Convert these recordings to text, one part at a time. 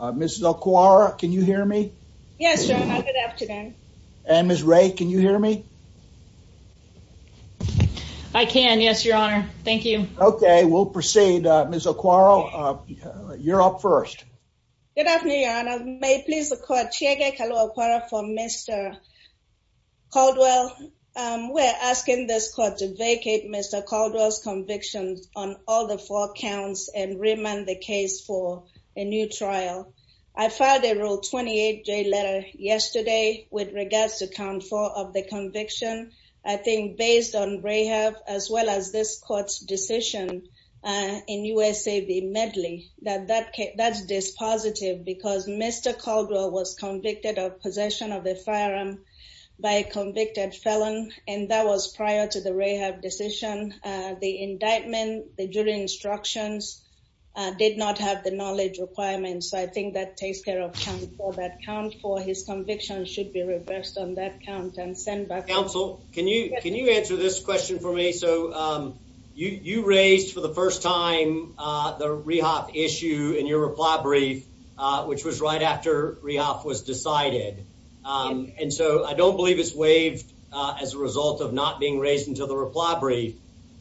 Mrs. O'Quarra, can you hear me? Yes, Your Honor. Good afternoon. And Ms. Ray, can you hear me? I can, yes, Your Honor. Thank you. Okay, we'll proceed. Ms. O'Quarra, you're up first. Good afternoon, Your Honor. May it please the Court, Chieke Kalua-O'Quarra for Mr. Caldwell. We're asking this Court to vacate Mr. Caldwell's conviction on all the four counts and remand the case for a new trial. I filed a Rule 28J letter yesterday with regards to count four of the conviction. I think based on RAHEF, as well as this Court's decision in USAV Medley, that that's dispositive because Mr. Caldwell was convicted of possession of a firearm by a convicted felon. And that was prior to the RAHEF decision. The indictment, the jury instructions did not have the knowledge requirements. So I think that takes care of count four. That count four, his conviction should be reversed on that count and sent back. Counsel, can you answer this question for me? So you raised for the first time the RAHEF issue in your reply brief, which was right after RAHEF was decided. And so I don't believe it's waived as a result of not being raised until the reply brief.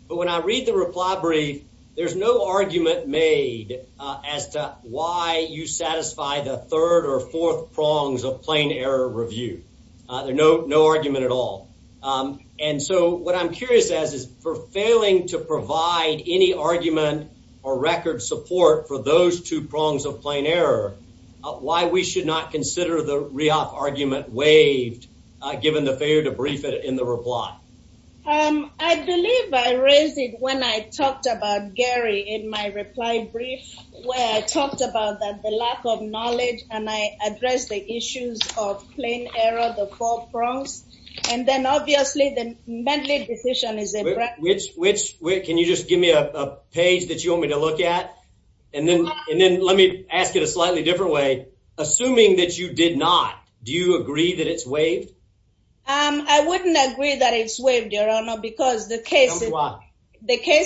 But when I read the reply brief, there's no argument made as to why you satisfy the third or fourth prongs of plain error review. There's no argument at all. And so what I'm curious as is for failing to provide any argument or record support for those two prongs of plain error, why we should not consider the RIAF argument waived given the failure to brief it in the reply? I believe I raised it when I talked about Gary in my reply brief, where I talked about the lack of knowledge and I addressed the issues of plain error, the four prongs. And then obviously the Mendley decision is a- Can you just give me a page that you want me to look at? And then let me ask it a slightly different way. Assuming that you did not, do you agree that it's waived? I wouldn't agree that it's waived, Your Honor, because the case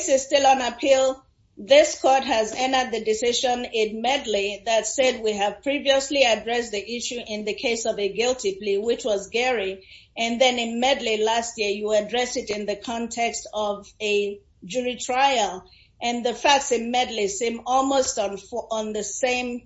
is still on appeal. This court has entered the decision in Mendley that said we have previously addressed the issue in the case of a guilty plea, which was Gary. And then in Mendley last year, you addressed it in the context of a jury trial. And the facts in Mendley seem almost on the same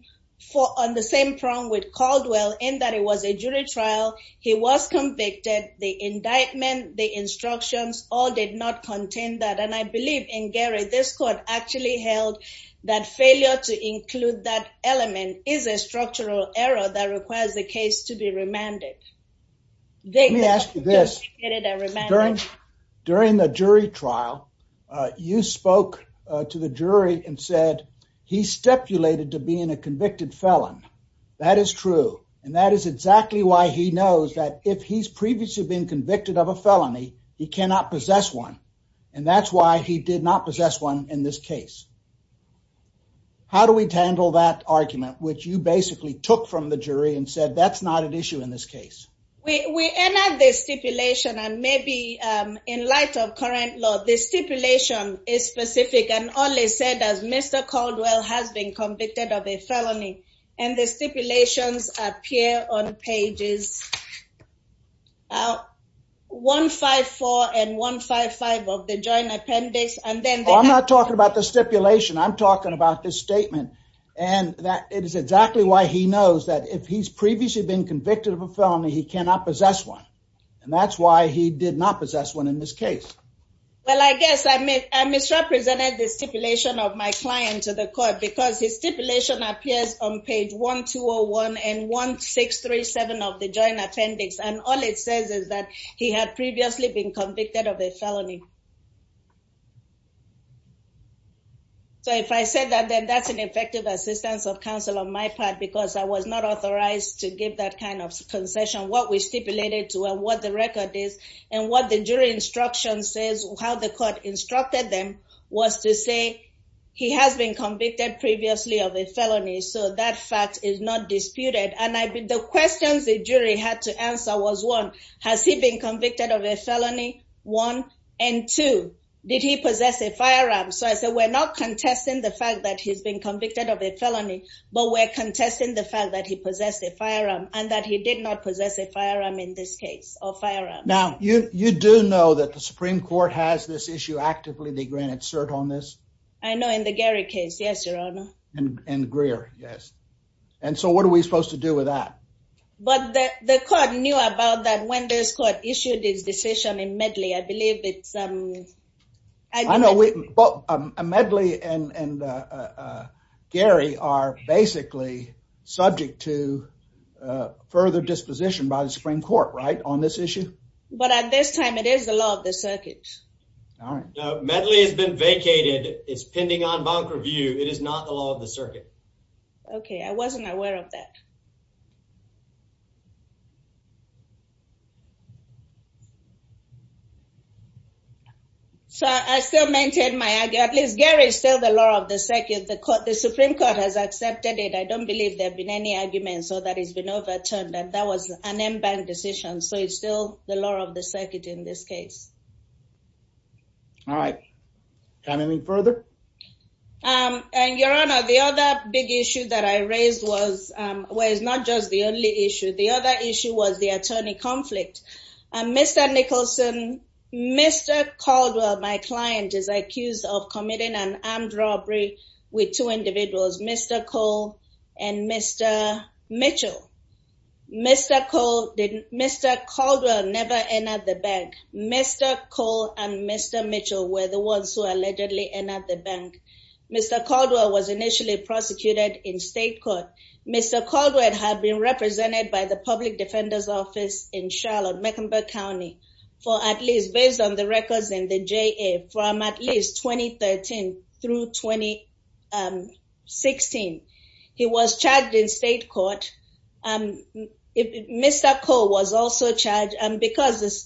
prong with Caldwell in that it was a jury trial. He was convicted. The indictment, the instructions, all did not contain that. And I believe in Gary, this court actually held that failure to include that element is a structural error that requires the case to be remanded. Let me ask you this. During the jury trial, you spoke to the jury and said he stipulated to being a convicted felon. That is true. And that is exactly why he knows that if he's previously been convicted of a felony, he cannot possess one. And that's why he did not possess one in this case. How do we handle that argument, which you basically took from the jury and said that's not an issue in this case? We end this stipulation and maybe in light of current law, this stipulation is specific and only said as Mr. Caldwell has been convicted of a felony. And the stipulations appear on pages one, five, four and one, five, five of the joint appendix. And then I'm not talking about the stipulation. I'm talking about this statement. And that is exactly why he knows that if he's previously been convicted of a felony, he cannot possess one. And that's why he did not possess one in this case. Well, I guess I misrepresented the stipulation of my client to the court because his stipulation appears on page one, two, one and one, six, three, seven of the joint appendix. And all it says is that he had previously been convicted of a felony. So if I said that, then that's an effective assistance of counsel on my part because I was not authorized to give that kind of concession. What we stipulated to what the record is and what the jury instruction says, how the court instructed them was to say he has been convicted previously of a felony. So that fact is not disputed. And the questions the jury had to answer was one, has he been convicted of a felony? One. And two, did he possess a firearm? So I said, we're not contesting the fact that he's been convicted of a felony, but we're contesting the fact that he possessed a firearm and that he did not possess a firearm in this case or firearm. Now, you do know that the Supreme Court has this issue actively. They granted cert on this. I know in the Gary case. Yes, Your Honor. And Greer, yes. And so what are we supposed to do with that? But the court knew about that when this court issued its decision in Medley, I believe it's... I know Medley and Gary are basically subject to further disposition by the Supreme Court, right, on this issue? But at this time, it is the law of the circuit. Medley has been vacated. It's pending on bank review. It is not the law of the circuit. Okay. I wasn't aware of that. So I still maintain my argument. At least Gary is still the law of the circuit. The Supreme Court has accepted it. I don't believe there have been any arguments or that it's been overturned and that was an in-bank decision. So it's still the law of the circuit in this case. All right. Do you have anything further? And Your Honor, the other big issue that I raised was... Well, it's not just the only issue. The other issue was the attorney conflict. Mr. Nicholson, Mr. Caldwell, my client, is accused of committing an armed robbery with two individuals, Mr. Cole and Mr. Mitchell. Mr. Caldwell never entered the bank. Mr. Cole and Mr. Mitchell were the ones who allegedly entered the bank. Mr. Caldwell was initially prosecuted in state court. Mr. Caldwell had been represented by the Public Defender's Office in Charlotte, Mecklenburg County, based on the records in the JA, from at least 2013 through 2016. He was charged in state court. Mr. Cole was also charged. And because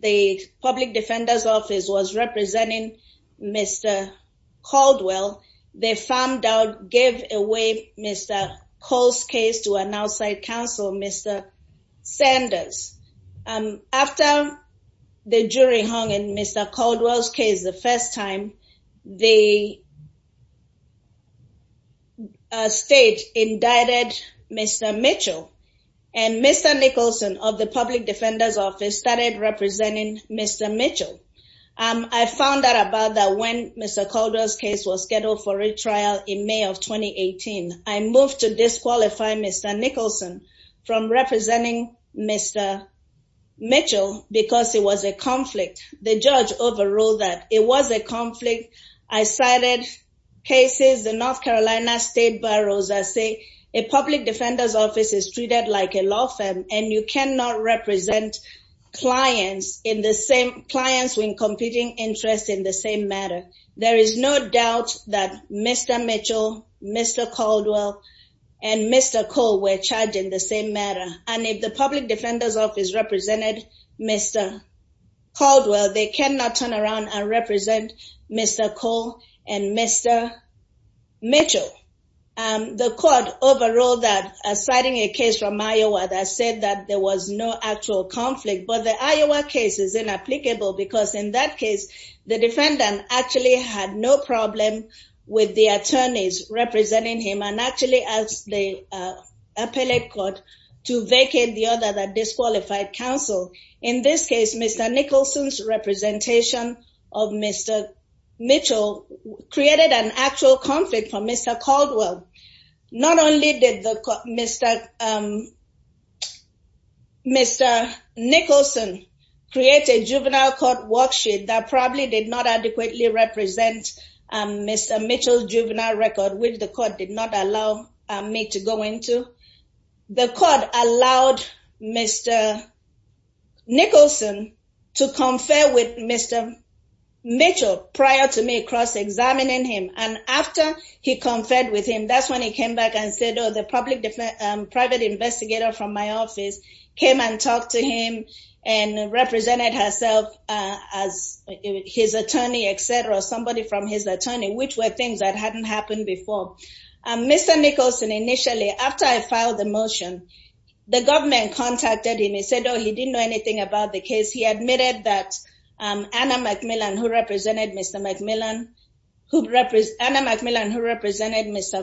the Public Defender's Office was representing Mr. Caldwell, they found out, gave away Mr. Cole's case to an outside counsel, Mr. Sanders. After the jury hung in Mr. Caldwell's case the first time, the state indicted Mr. Mitchell. And Mr. Nicholson of the Public Defender's Office started representing Mr. Mitchell. I found out about that when Mr. Caldwell's case was scheduled for retrial in May of 2018. I moved to disqualify Mr. Nicholson from representing Mr. Mitchell because it was a conflict. The judge overruled that. It was a conflict. I cited cases in North Carolina state boroughs that say a Public Defender's Office is treated like a law firm and you cannot represent clients when competing interests in the same matter. There is no doubt that Mr. Mitchell, Mr. Caldwell, and Mr. Cole were charged in the same matter. And if the Public Defender's Office represented Mr. Caldwell, they cannot turn around and represent Mr. Cole and Mr. Mitchell. The court overruled that, citing a case from Iowa that said that there was no actual conflict. But the Iowa case is inapplicable because in that case, the defendant actually had no problem with the attorneys representing him and actually asked the appellate court to vacate the other disqualified counsel. In this case, Mr. Nicholson's representation of Mr. Mitchell created an actual conflict for Mr. Caldwell. Not only did Mr. Nicholson create a juvenile court worksheet that probably did not adequately represent Mr. Mitchell's juvenile record, which the court did not allow me to go into, the court allowed Mr. Nicholson to confer with Mr. Mitchell prior to me cross-examining him. And after he conferred with him, that's when he came back and said, oh, the private investigator from my office came and talked to him and represented herself as his attorney, etc., somebody from his attorney, which were things that hadn't happened before. Mr. Nicholson, initially, after I filed the motion, the government contacted him and said, oh, he didn't know anything about the case. He admitted that Anna McMillan, who represented Mr.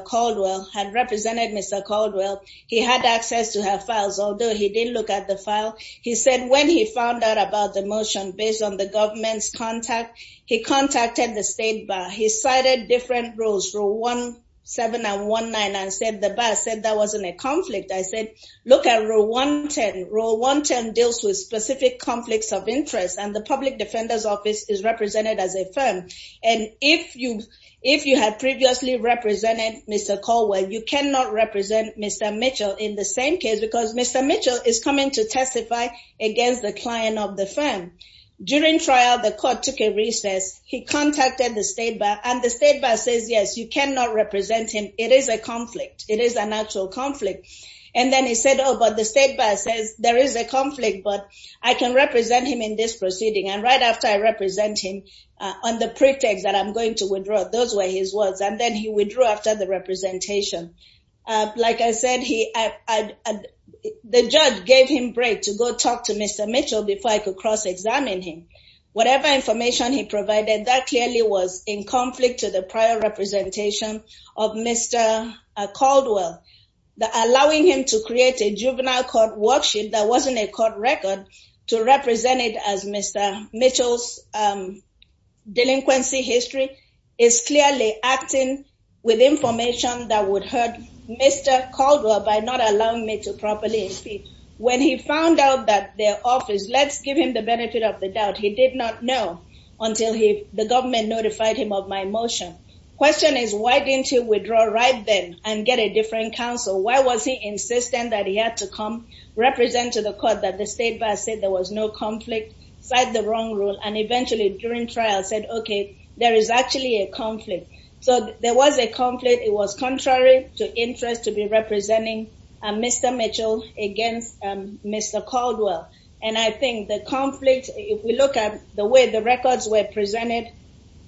Caldwell, had represented Mr. Caldwell. He had access to her files, although he didn't look at the file. He said when he found out about the motion based on the government's contact, he contacted the state bar. He cited different rules, rule 17 and 19, and said the bar said that wasn't a conflict. I said, look at rule 110. Rule 110 deals with specific conflicts of interest, and the public defender's office is represented as a firm. And if you had previously represented Mr. Caldwell, you cannot represent Mr. Mitchell in the same case, because Mr. Mitchell is coming to testify against the client of the firm. During trial, the court took a recess. He contacted the state bar, and the state bar says, yes, you cannot represent him. It is a conflict. It is an actual conflict. And then he said, oh, but the state bar says there is a conflict, but I can represent him in this proceeding. And right after I represent him on the pretext that I'm going to withdraw, those were his words. And then he withdrew after the representation. Like I said, the judge gave him break to go talk to Mr. Mitchell before I could cross-examine him. Whatever information he provided, that clearly was in conflict to the prior representation of Mr. Caldwell. Allowing him to create a juvenile court worksheet that wasn't a court record to represent it as Mr. Mitchell's delinquency history is clearly acting with information that would hurt Mr. Caldwell by not allowing me to properly speak. When he found out that their office, let's give him the benefit of the doubt, he did not know until the government notified him of my motion. Question is, why didn't he withdraw right then and get a different counsel? Why was he insistent that he had to come represent to the court that the state bar said there was no conflict, cite the wrong rule, and eventually during trial said, okay, there is actually a conflict. So there was a conflict. It was contrary to interest to be representing Mr. Mitchell against Mr. Caldwell. And I think the conflict, if we look at the way the records were presented,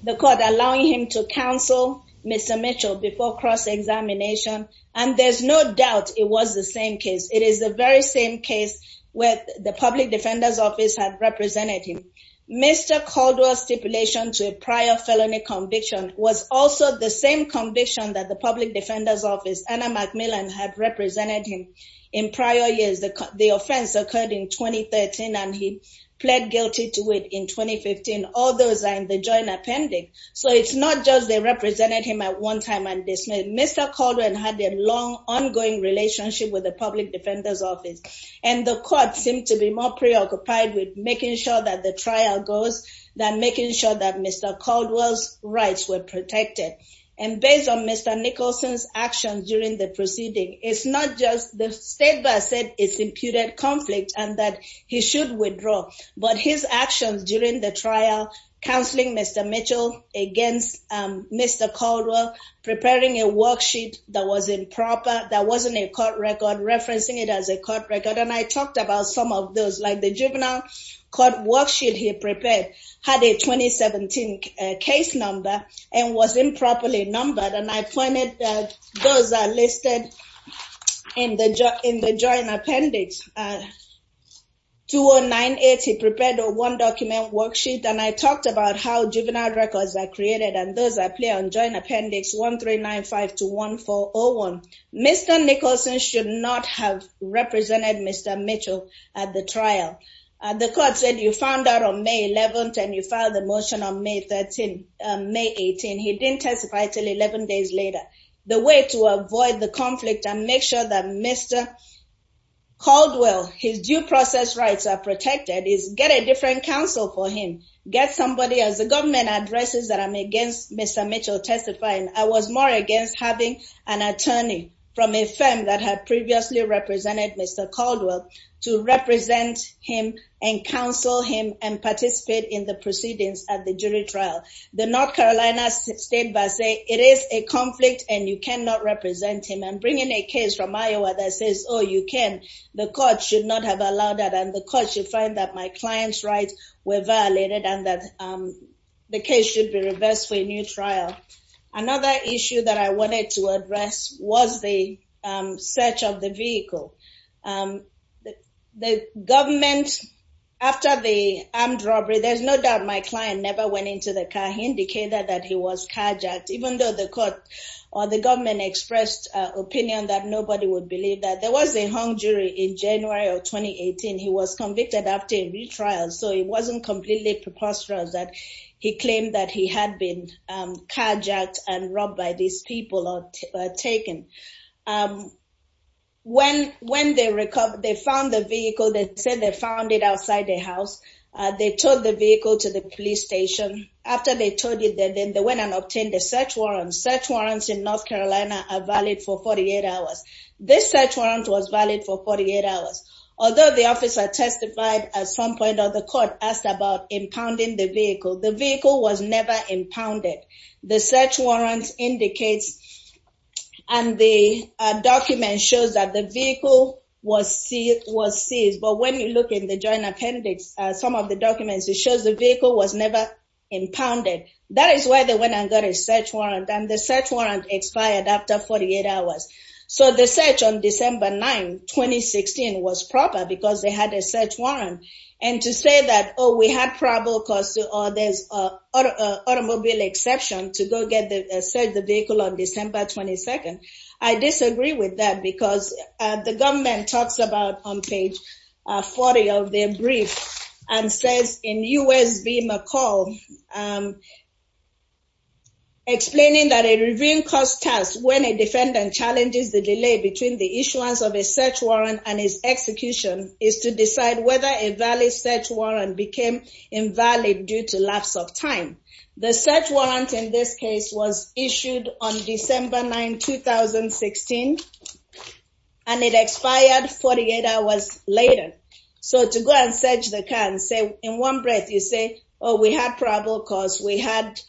the court allowing him to counsel Mr. Mitchell before cross-examination, and there's no doubt it was the same case. It is the very same case where the public defender's office had represented him. Mr. Caldwell's stipulation to a prior felony conviction was also the same conviction that the public defender's office, Anna McMillan, had represented him in prior years. The offense occurred in 2013, and he pled guilty to it in 2015. All those are in the joint appending. So it's not just they represented him at one time and dismissed. Mr. Caldwell had a long, ongoing relationship with the public defender's office, and the court seemed to be more preoccupied with making sure that the trial goes than making sure that Mr. Caldwell's rights were protected. And based on Mr. Nicholson's actions during the proceeding, it's not just the state that said it's imputed conflict and that he should withdraw, but his actions during the trial, counseling Mr. Mitchell against Mr. Caldwell, preparing a worksheet that was improper, that wasn't a court record, referencing it as a court record. And I talked about some of those, like the juvenile court worksheet he prepared had a 2017 case number and was improperly numbered. And I pointed that those are listed in the joint appendix. 2098, he prepared a one-document worksheet, and I talked about how juvenile records are created and those that play on joint appendix 1395 to 1401. Mr. Nicholson should not have represented Mr. Mitchell at the trial. The court said you found out on May 11th and you filed the motion on May 13th, May 18th. He didn't testify until 11 days later. The way to avoid the conflict and make sure that Mr. Caldwell, his due process rights are protected is get a different counsel for him. Get somebody as the government addresses that I'm against Mr. Mitchell testifying. I was more against having an attorney from a firm that had previously represented Mr. Caldwell to represent him and counsel him and participate in the proceedings at the jury trial. The North Carolina State Versailles, it is a conflict, and you cannot represent him. I'm bringing a case from Iowa that says, oh, you can. The court should not have allowed that, and the court should find that my client's rights were violated and that the case should be reversed for a new trial. Another issue that I wanted to address was the search of the vehicle. The government, after the armed robbery, there's no doubt my client never went into the car. He indicated that he was carjacked, even though the court or the government expressed opinion that nobody would believe that. There was a hung jury in January of 2018. He was convicted after a retrial, so it wasn't completely preposterous that he claimed that he had been carjacked and robbed by these people or taken. When they found the vehicle, they said they found it outside the house. They towed the vehicle to the police station. After they towed it, then they went and obtained a search warrant. Search warrants in North Carolina are valid for 48 hours. This search warrant was valid for 48 hours. Although the officer testified at some point or the court asked about impounding the vehicle, the vehicle was never impounded. The search warrant indicates and the document shows that the vehicle was seized. But when you look in the joint appendix, some of the documents, it shows the vehicle was never impounded. That is why they went and got a search warrant, and the search warrant expired after 48 hours. So the search on December 9, 2016 was proper because they had a search warrant. And to say that, oh, we had probable cause or there's an automobile exception to go get the vehicle on December 22nd. I disagree with that because the government talks about on page 40 of their brief and says in U.S.B. McCall. Explaining that a review cost test when a defendant challenges the delay between the issuance of a search warrant and his execution is to decide whether a valid search warrant became invalid due to lapse of time. The search warrant in this case was issued on December 9, 2016, and it expired 48 hours later. So to go and search the car and say, in one breath, you say, oh, we had probable cause, we had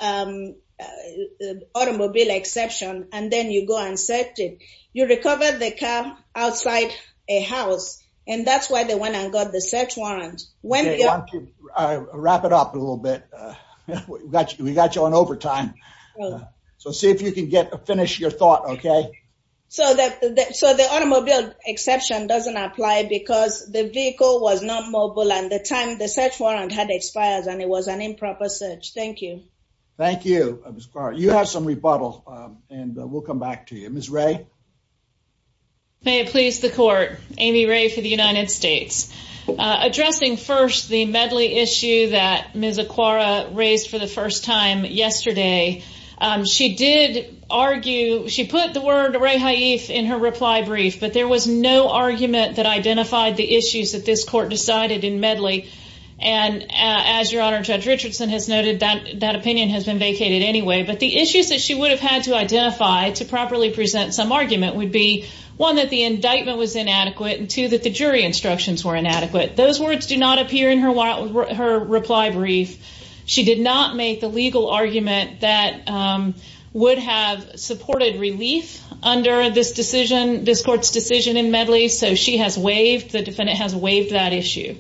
automobile exception, and then you go and search it. You recover the car outside a house, and that's why they went and got the search warrant. Wrap it up a little bit. We got you on overtime. So see if you can finish your thought, okay? So the automobile exception doesn't apply because the vehicle was not mobile and the time the search warrant had expired and it was an improper search. Thank you. Thank you. You have some rebuttal, and we'll come back to you. Ms. Ray. May it please the court. Amy Ray for the United States. Addressing first the Medley issue that Ms. Aquara raised for the first time yesterday, she did argue, she put the word Ray Haif in her reply brief, but there was no argument that identified the issues that this court decided in Medley. And as Your Honor, Judge Richardson has noted, that opinion has been vacated anyway. But the issues that she would have had to identify to properly present some argument would be, one, that the indictment was inadequate, and two, that the jury instructions were inadequate. Those words do not appear in her reply brief. She did not make the legal argument that would have supported relief under this decision, this court's decision in Medley. So she has waived, the defendant has waived that issue.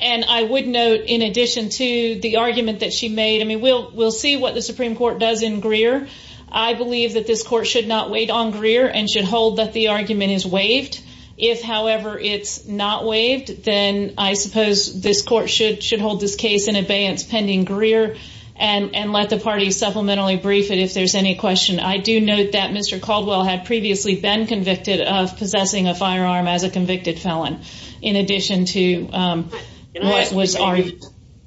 And I would note, in addition to the argument that she made, I mean, we'll see what the Supreme Court does in Greer. I believe that this court should not wait on Greer and should hold that the argument is waived. If, however, it's not waived, then I suppose this court should hold this case in abeyance pending Greer and let the party supplementarily brief it if there's any question. I do note that Mr. Caldwell had previously been convicted of possessing a firearm as a convicted felon. In addition to what was argued.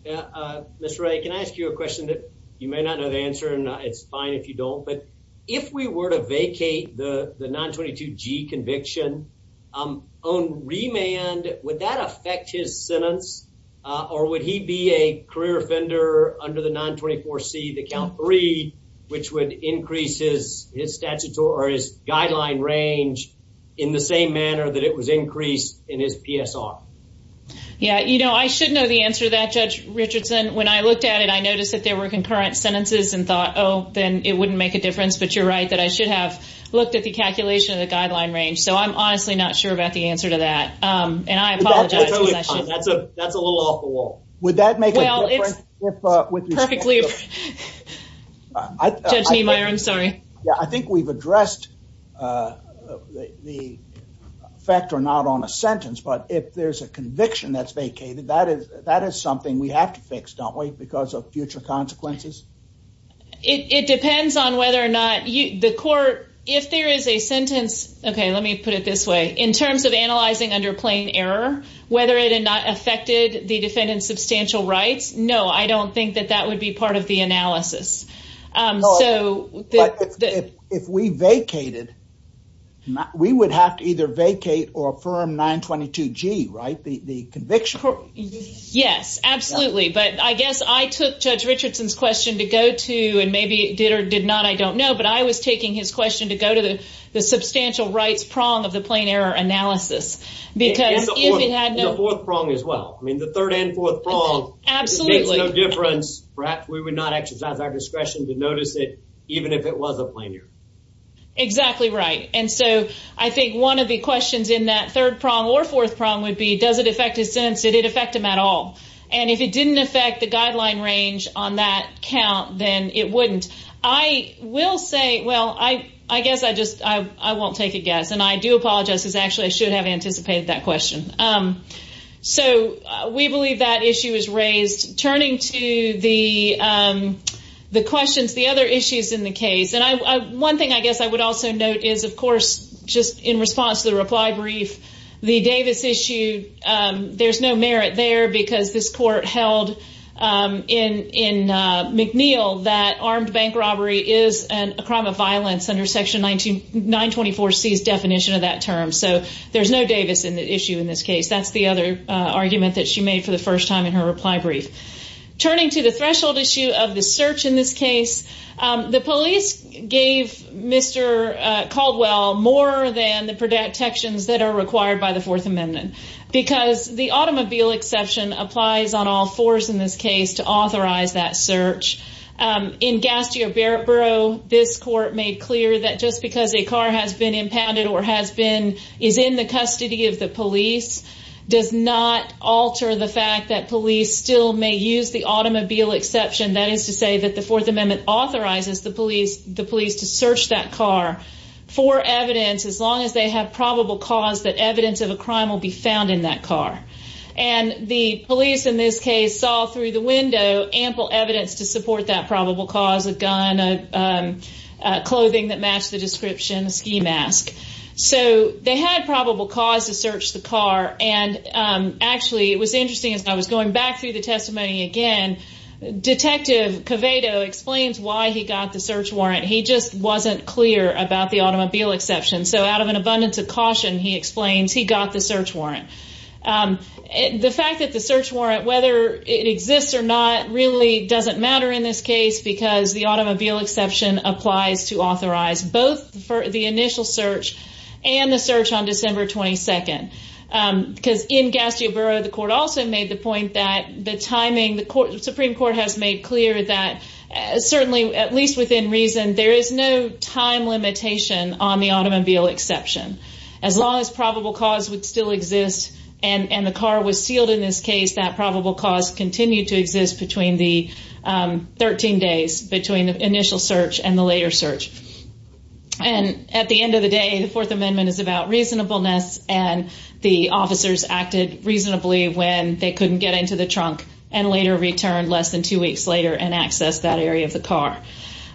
Mr. Ray, can I ask you a question that you may not know the answer, and it's fine if you don't. But if we were to vacate the 922G conviction on remand, would that affect his sentence? Or would he be a career offender under the 924C, the count three, which would increase his statute or his guideline range in the same manner that it was increased in his PSR? Yeah, you know, I should know the answer to that, Judge Richardson. When I looked at it, I noticed that there were concurrent sentences and thought, oh, then it wouldn't make a difference. But you're right that I should have looked at the calculation of the guideline range. So I'm honestly not sure about the answer to that. That's a little off the wall. Would that make a difference? I think we've addressed the effect or not on a sentence. But if there's a conviction that's vacated, that is something we have to fix, don't we? Because of future consequences. It depends on whether or not the court, if there is a sentence. OK, let me put it this way. In terms of analyzing under plain error, whether it had not affected the defendant's substantial rights. No, I don't think that that would be part of the analysis. If we vacated, we would have to either vacate or affirm 922G, right? The conviction court? Yes, absolutely. But I guess I took Judge Richardson's question to go to, and maybe did or did not, I don't know. But I was taking his question to go to the substantial rights prong of the plain error analysis. The fourth prong as well. I mean, the third and fourth prong makes no difference. Perhaps we would not exercise our discretion to notice it, even if it was a plain error. Exactly right. And so I think one of the questions in that third prong or fourth prong would be, does it affect his sentence? Did it affect him at all? And if it didn't affect the guideline range on that count, then it wouldn't. And I will say, well, I guess I just won't take a guess. And I do apologize, because actually I should have anticipated that question. So we believe that issue is raised. Turning to the questions, the other issues in the case, and one thing I guess I would also note is, of course, just in response to the reply brief, the Davis issue, there's no merit there because this court held in McNeil that armed bank robbery is a crime of violence under Section 924C's definition of that term. So there's no Davis in the issue in this case. That's the other argument that she made for the first time in her reply brief. Turning to the threshold issue of the search in this case, the police gave Mr. Caldwell more than the protections that are required by the Fourth Amendment, because the automobile exception applies on all fours in this case to authorize that search. In Gastier-Barrett Bureau, this court made clear that just because a car has been impounded or is in the custody of the police does not alter the fact that police still may use the automobile exception. That is to say that the Fourth Amendment authorizes the police to search that car for evidence as long as they have probable cause that evidence of a crime will be found in that car. And the police in this case saw through the window ample evidence to support that probable cause, a gun, clothing that matched the description, a ski mask. So they had probable cause to search the car. And actually, it was interesting as I was going back through the testimony again, Detective Covado explains why he got the search warrant. He just wasn't clear about the automobile exception. So out of an abundance of caution, he explains, he got the search warrant. The fact that the search warrant, whether it exists or not, really doesn't matter in this case because the automobile exception applies to authorize both the initial search and the search on December 22nd. Because in Gastioboro, the court also made the point that the timing, the Supreme Court has made clear that certainly, at least within reason, there is no time limitation on the automobile exception. As long as probable cause would still exist and the car was sealed in this case, that probable cause continued to exist between the 13 days, between the initial search and the later search. And at the end of the day, the Fourth Amendment is about reasonableness and the officers acted reasonably when they couldn't get into the trunk and later returned less than two weeks later and accessed that area of the car.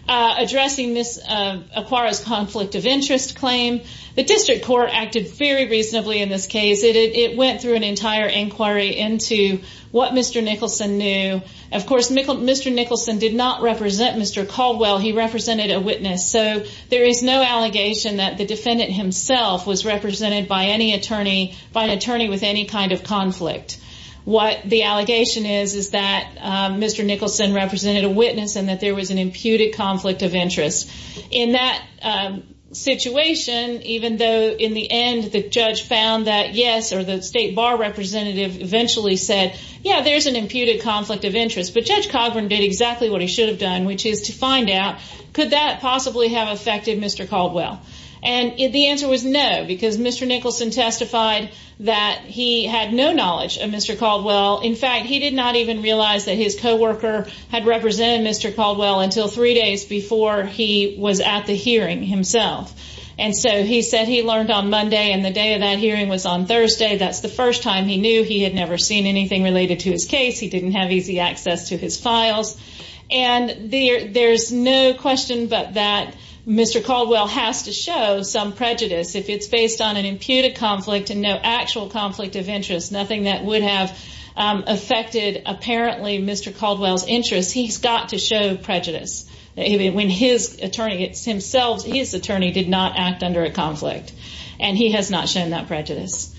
Addressing Ms. Aquara's conflict of interest claim, the district court acted very reasonably in this case. It went through an entire inquiry into what Mr. Nicholson knew. Of course, Mr. Nicholson did not represent Mr. Caldwell. He represented a witness. So, there is no allegation that the defendant himself was represented by any attorney, by an attorney with any kind of conflict. What the allegation is, is that Mr. Nicholson represented a witness and that there was an imputed conflict of interest. In that situation, even though in the end, the judge found that yes, or the state bar representative eventually said, yeah, there's an imputed conflict of interest. But Judge Cogburn did exactly what he should have done, which is to find out, could that possibly have affected Mr. Caldwell? And the answer was no, because Mr. Nicholson testified that he had no knowledge of Mr. Caldwell. In fact, he did not even realize that his co-worker had represented Mr. Caldwell until three days before he was at the hearing himself. And so, he said he learned on Monday and the day of that hearing was on Thursday. That's the first time he knew he had never seen anything related to his case. He didn't have easy access to his files. And there's no question but that Mr. Caldwell has to show some prejudice. If it's based on an imputed conflict and no actual conflict of interest, nothing that would have affected, apparently, Mr. Caldwell's interest, he's got to show prejudice. When his attorney, it's himself, his attorney did not act under a conflict. And he has not shown that prejudice.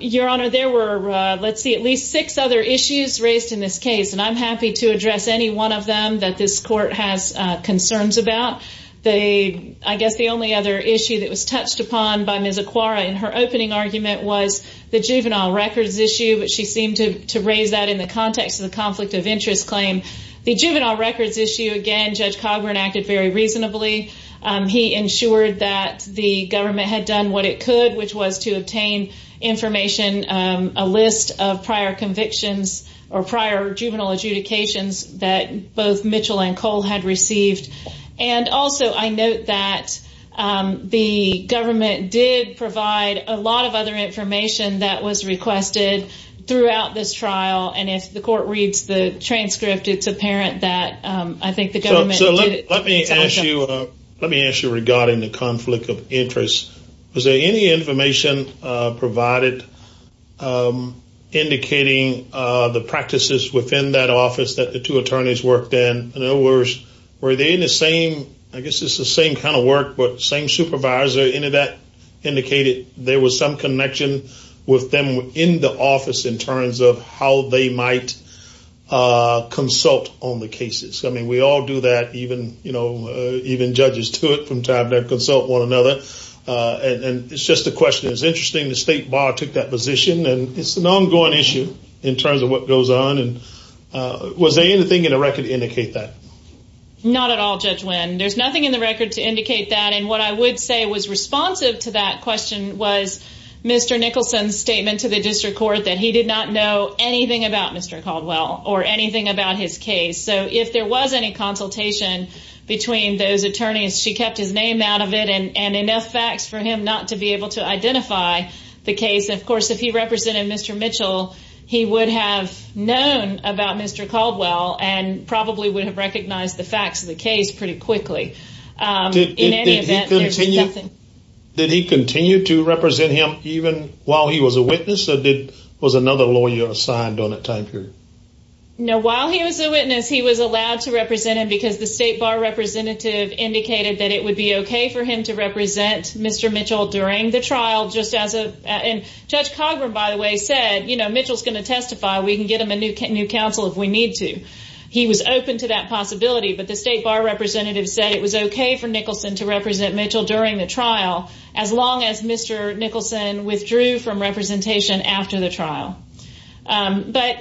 Your Honor, there were, let's see, at least six other issues raised in this case. And I'm happy to address any one of them that this court has concerns about. I guess the only other issue that was touched upon by Ms. Aquara in her opening argument was the juvenile records issue, which she seemed to raise that in the context of the conflict of interest claim. The juvenile records issue, again, Judge Cogburn acted very reasonably. He ensured that the government had done what it could, which was to obtain information, a list of prior convictions or prior juvenile adjudications that both Mitchell and Cole had received. And also, I note that the government did provide a lot of other information that was requested throughout this trial. And if the court reads the transcript, it's apparent that I think the government did it. Let me ask you regarding the conflict of interest. Was there any information provided indicating the practices within that office that the two attorneys worked in? In other words, were they in the same, I guess it's the same kind of work, but same supervisor, any of that indicated there was some connection with them in the office in terms of how they might consult on the cases? I mean, we all do that, even judges do it from time to time, consult one another. And it's just a question. It's interesting the state bar took that position. And it's an ongoing issue in terms of what goes on. And was there anything in the record to indicate that? Not at all, Judge Winn. There's nothing in the record to indicate that. And what I would say was responsive to that question was Mr. Nicholson's statement to the district court that he did not know anything about Mr. Caldwell or anything about his case. So if there was any consultation between those attorneys, she kept his name out of it and enough facts for him not to be able to identify the case. Of course, if he represented Mr. Mitchell, he would have known about Mr. Caldwell and probably would have recognized the facts of the case pretty quickly. Did he continue to represent him even while he was a witness or was another lawyer assigned on a time period? No, while he was a witness, he was allowed to represent him because the state bar representative indicated that it would be okay for him to represent Mr. Mitchell during the trial. And Judge Cogburn, by the way, said, you know, Mitchell's going to testify. We can get him a new counsel if we need to. He was open to that possibility. But the state bar representative said it was okay for Nicholson to represent Mitchell during the trial as long as Mr. Nicholson withdrew from representation after the trial. But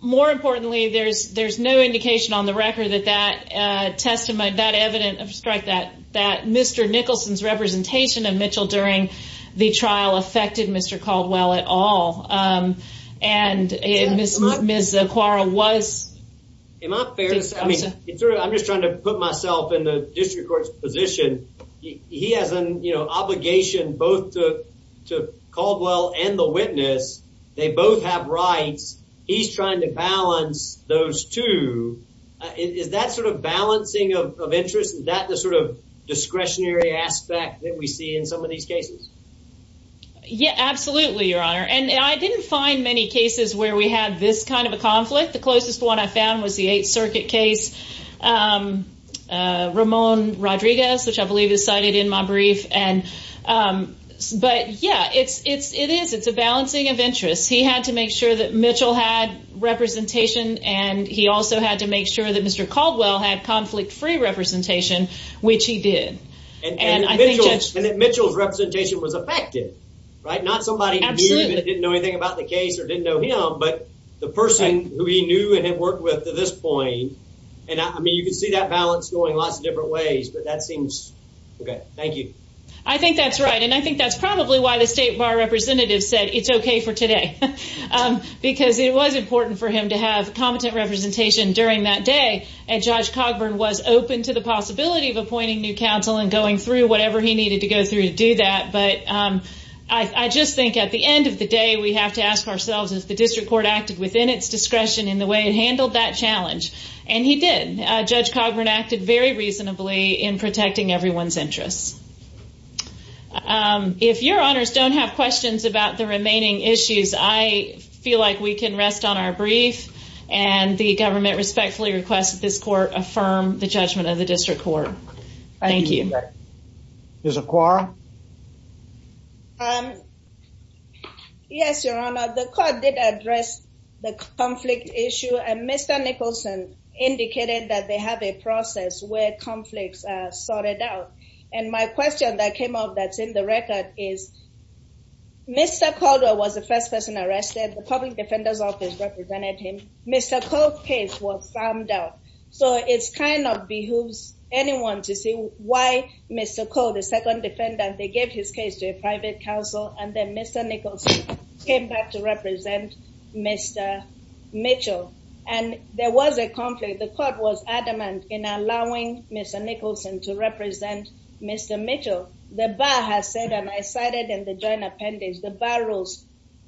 more importantly, there's there's no indication on the record that that testimony, that evidence of strike that that Mr. Nicholson's representation of Mitchell during the trial affected Mr. Caldwell at all. And Ms. Zucora was. Am I fair to say, I mean, I'm just trying to put myself in the district court's position. He has an obligation both to Caldwell and the witness. They both have rights. He's trying to balance those two. Is that sort of balancing of interest? Is that the sort of discretionary aspect that we see in some of these cases? Yeah, absolutely, Your Honor. And I didn't find many cases where we had this kind of a conflict. The closest one I found was the Eighth Circuit case, Ramon Rodriguez, which I believe is cited in my brief. And but yeah, it's it's it is. It's a balancing of interests. He had to make sure that Mitchell had representation. And he also had to make sure that Mr. Caldwell had conflict free representation, which he did. And I think Mitchell's representation was affected. Right. Not somebody absolutely didn't know anything about the case or didn't know him. But the person who he knew and had worked with to this point. And I mean, you can see that balance going lots of different ways. But that seems OK. Thank you. I think that's right. And I think that's probably why the state bar representative said it's OK for today, because it was important for him to have competent representation during that day. And Judge Cogburn was open to the possibility of appointing new counsel and going through whatever he needed to go through to do that. But I just think at the end of the day, we have to ask ourselves if the district court acted within its discretion in the way it handled that challenge. And he did. Judge Cogburn acted very reasonably in protecting everyone's interests. If your honors don't have questions about the remaining issues, I feel like we can rest on our brief. And the government respectfully requests that this court affirm the judgment of the district court. Thank you. Ms. Acquara. Yes, Your Honor. The court did address the conflict issue. And Mr. Nicholson indicated that they have a process where conflicts are sorted out. And my question that came up that's in the record is Mr. Caldwell was the first person arrested. The public defender's office represented him. Mr. Cole's case was found out. So it kind of behooves anyone to see why Mr. Cole, the second defendant, they gave his case to a private counsel. And then Mr. Nicholson came back to represent Mr. Mitchell. And there was a conflict. The court was adamant in allowing Mr. Nicholson to represent Mr. Mitchell. The bar has said, and I cited in the joint appendix, the bar rules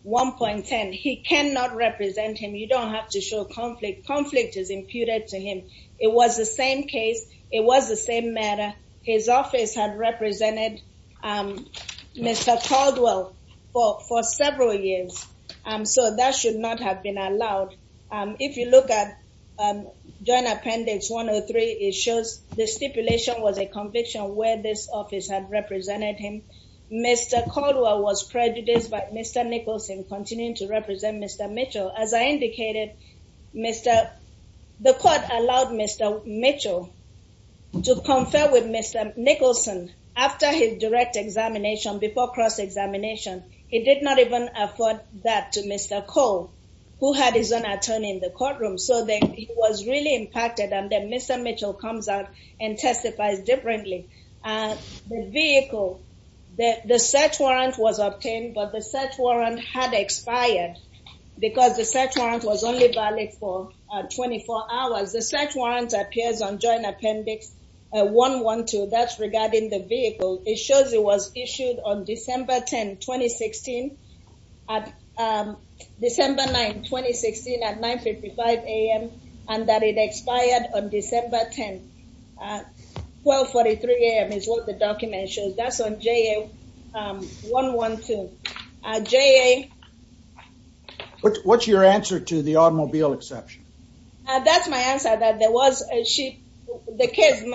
1.10. He cannot represent him. You don't have to show conflict. Conflict is imputed to him. It was the same case. It was the same matter. His office had represented Mr. Caldwell for several years. So that should not have been allowed. If you look at Joint Appendix 103, it shows the stipulation was a conviction where this office had represented him. Mr. Caldwell was prejudiced by Mr. Nicholson continuing to represent Mr. Mitchell. As I indicated, the court allowed Mr. Mitchell to confer with Mr. Nicholson after his direct examination, before cross-examination. It did not even afford that to Mr. Cole, who had his own attorney in the courtroom. So he was really impacted. And then Mr. Mitchell comes out and testifies differently. The vehicle, the search warrant was obtained, but the search warrant had expired because the search warrant was only valid for 24 hours. The search warrant appears on Joint Appendix 112. That's regarding the vehicle. It shows it was issued on December 10, 2016 at 9.55 a.m. and that it expired on December 10. 12.43 a.m. is what the document shows. That's on JA 112. What's your answer to the automobile exception? That's my answer. The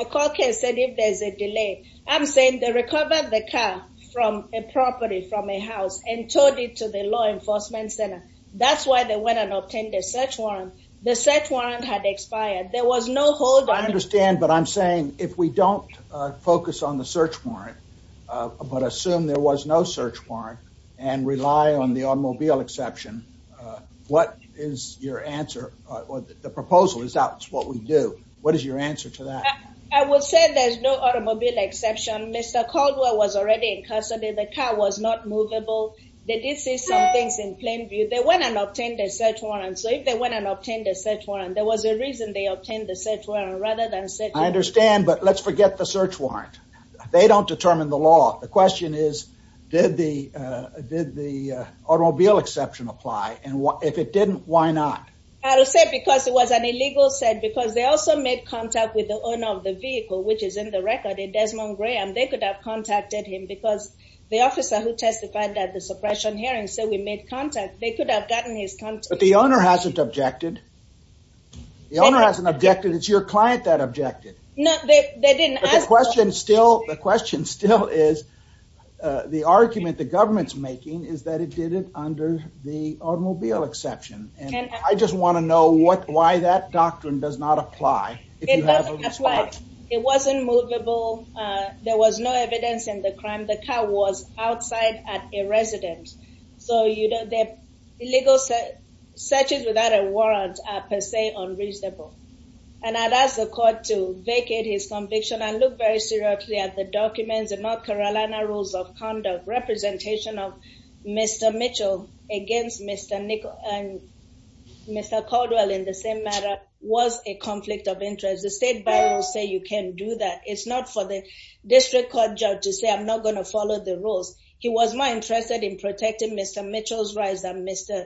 McCaul case said if there's a delay. I'm saying they recovered the car from a property, from a house, and towed it to the law enforcement center. That's why they went and obtained a search warrant. The search warrant had expired. There was no holdup. I understand, but I'm saying if we don't focus on the search warrant, but assume there was no search warrant and rely on the automobile exception, what is your answer? The proposal is that's what we do. What is your answer to that? I would say there's no automobile exception. Mr. Caldwell was already in custody. The car was not movable. They did see some things in plain view. They went and obtained a search warrant. So if they went and obtained a search warrant, there was a reason they obtained the search warrant rather than a search warrant. I understand, but let's forget the search warrant. They don't determine the law. The question is, did the automobile exception apply? And if it didn't, why not? I would say because it was an illegal set, because they also made contact with the owner of the vehicle, which is in the record, Desmond Graham. They could have contacted him because the officer who testified at the suppression hearing said we made contact. They could have gotten his contact. But the owner hasn't objected. The owner hasn't objected. It's your client that objected. No, they didn't ask. But the question still is, the argument the government's making is that it did it under the automobile exception. And I just want to know what, why that doctrine does not apply. It doesn't apply. It wasn't movable. There was no evidence in the crime. The car was outside at a residence. So, you know, the illegal searches without a warrant are per se unreasonable. And I'd ask the court to vacate his conviction. I look very seriously at the documents, the North Carolina Rules of Conduct. Representation of Mr. Mitchell against Mr. Nichols and Mr. Caldwell in the same matter was a conflict of interest. The State Bar will say you can't do that. It's not for the district court judge to say I'm not going to follow the rules. He was more interested in protecting Mr. Mitchell's rights than Mr.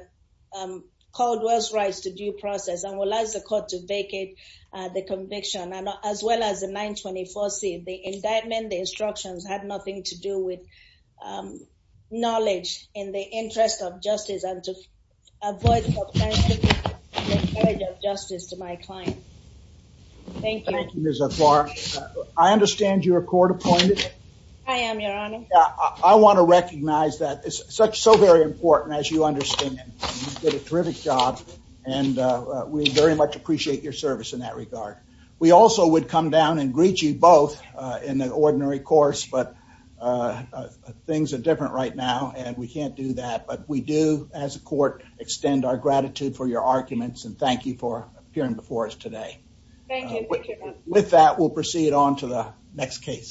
Caldwell's rights to due process. I would like the court to vacate the conviction and as well as the 924C. The indictment, the instructions had nothing to do with knowledge in the interest of justice and to avoid the charge of justice to my client. Thank you. Thank you, Ms. Afar. I understand you're a court appointed. I am, Your Honor. I want to recognize that. It's so very important as you understand. You did a terrific job and we very much appreciate your service in that regard. We also would come down and greet you both in the ordinary course. But things are different right now and we can't do that. But we do, as a court, extend our gratitude for your arguments and thank you for appearing before us today. Thank you. With that, we'll proceed on to the next case.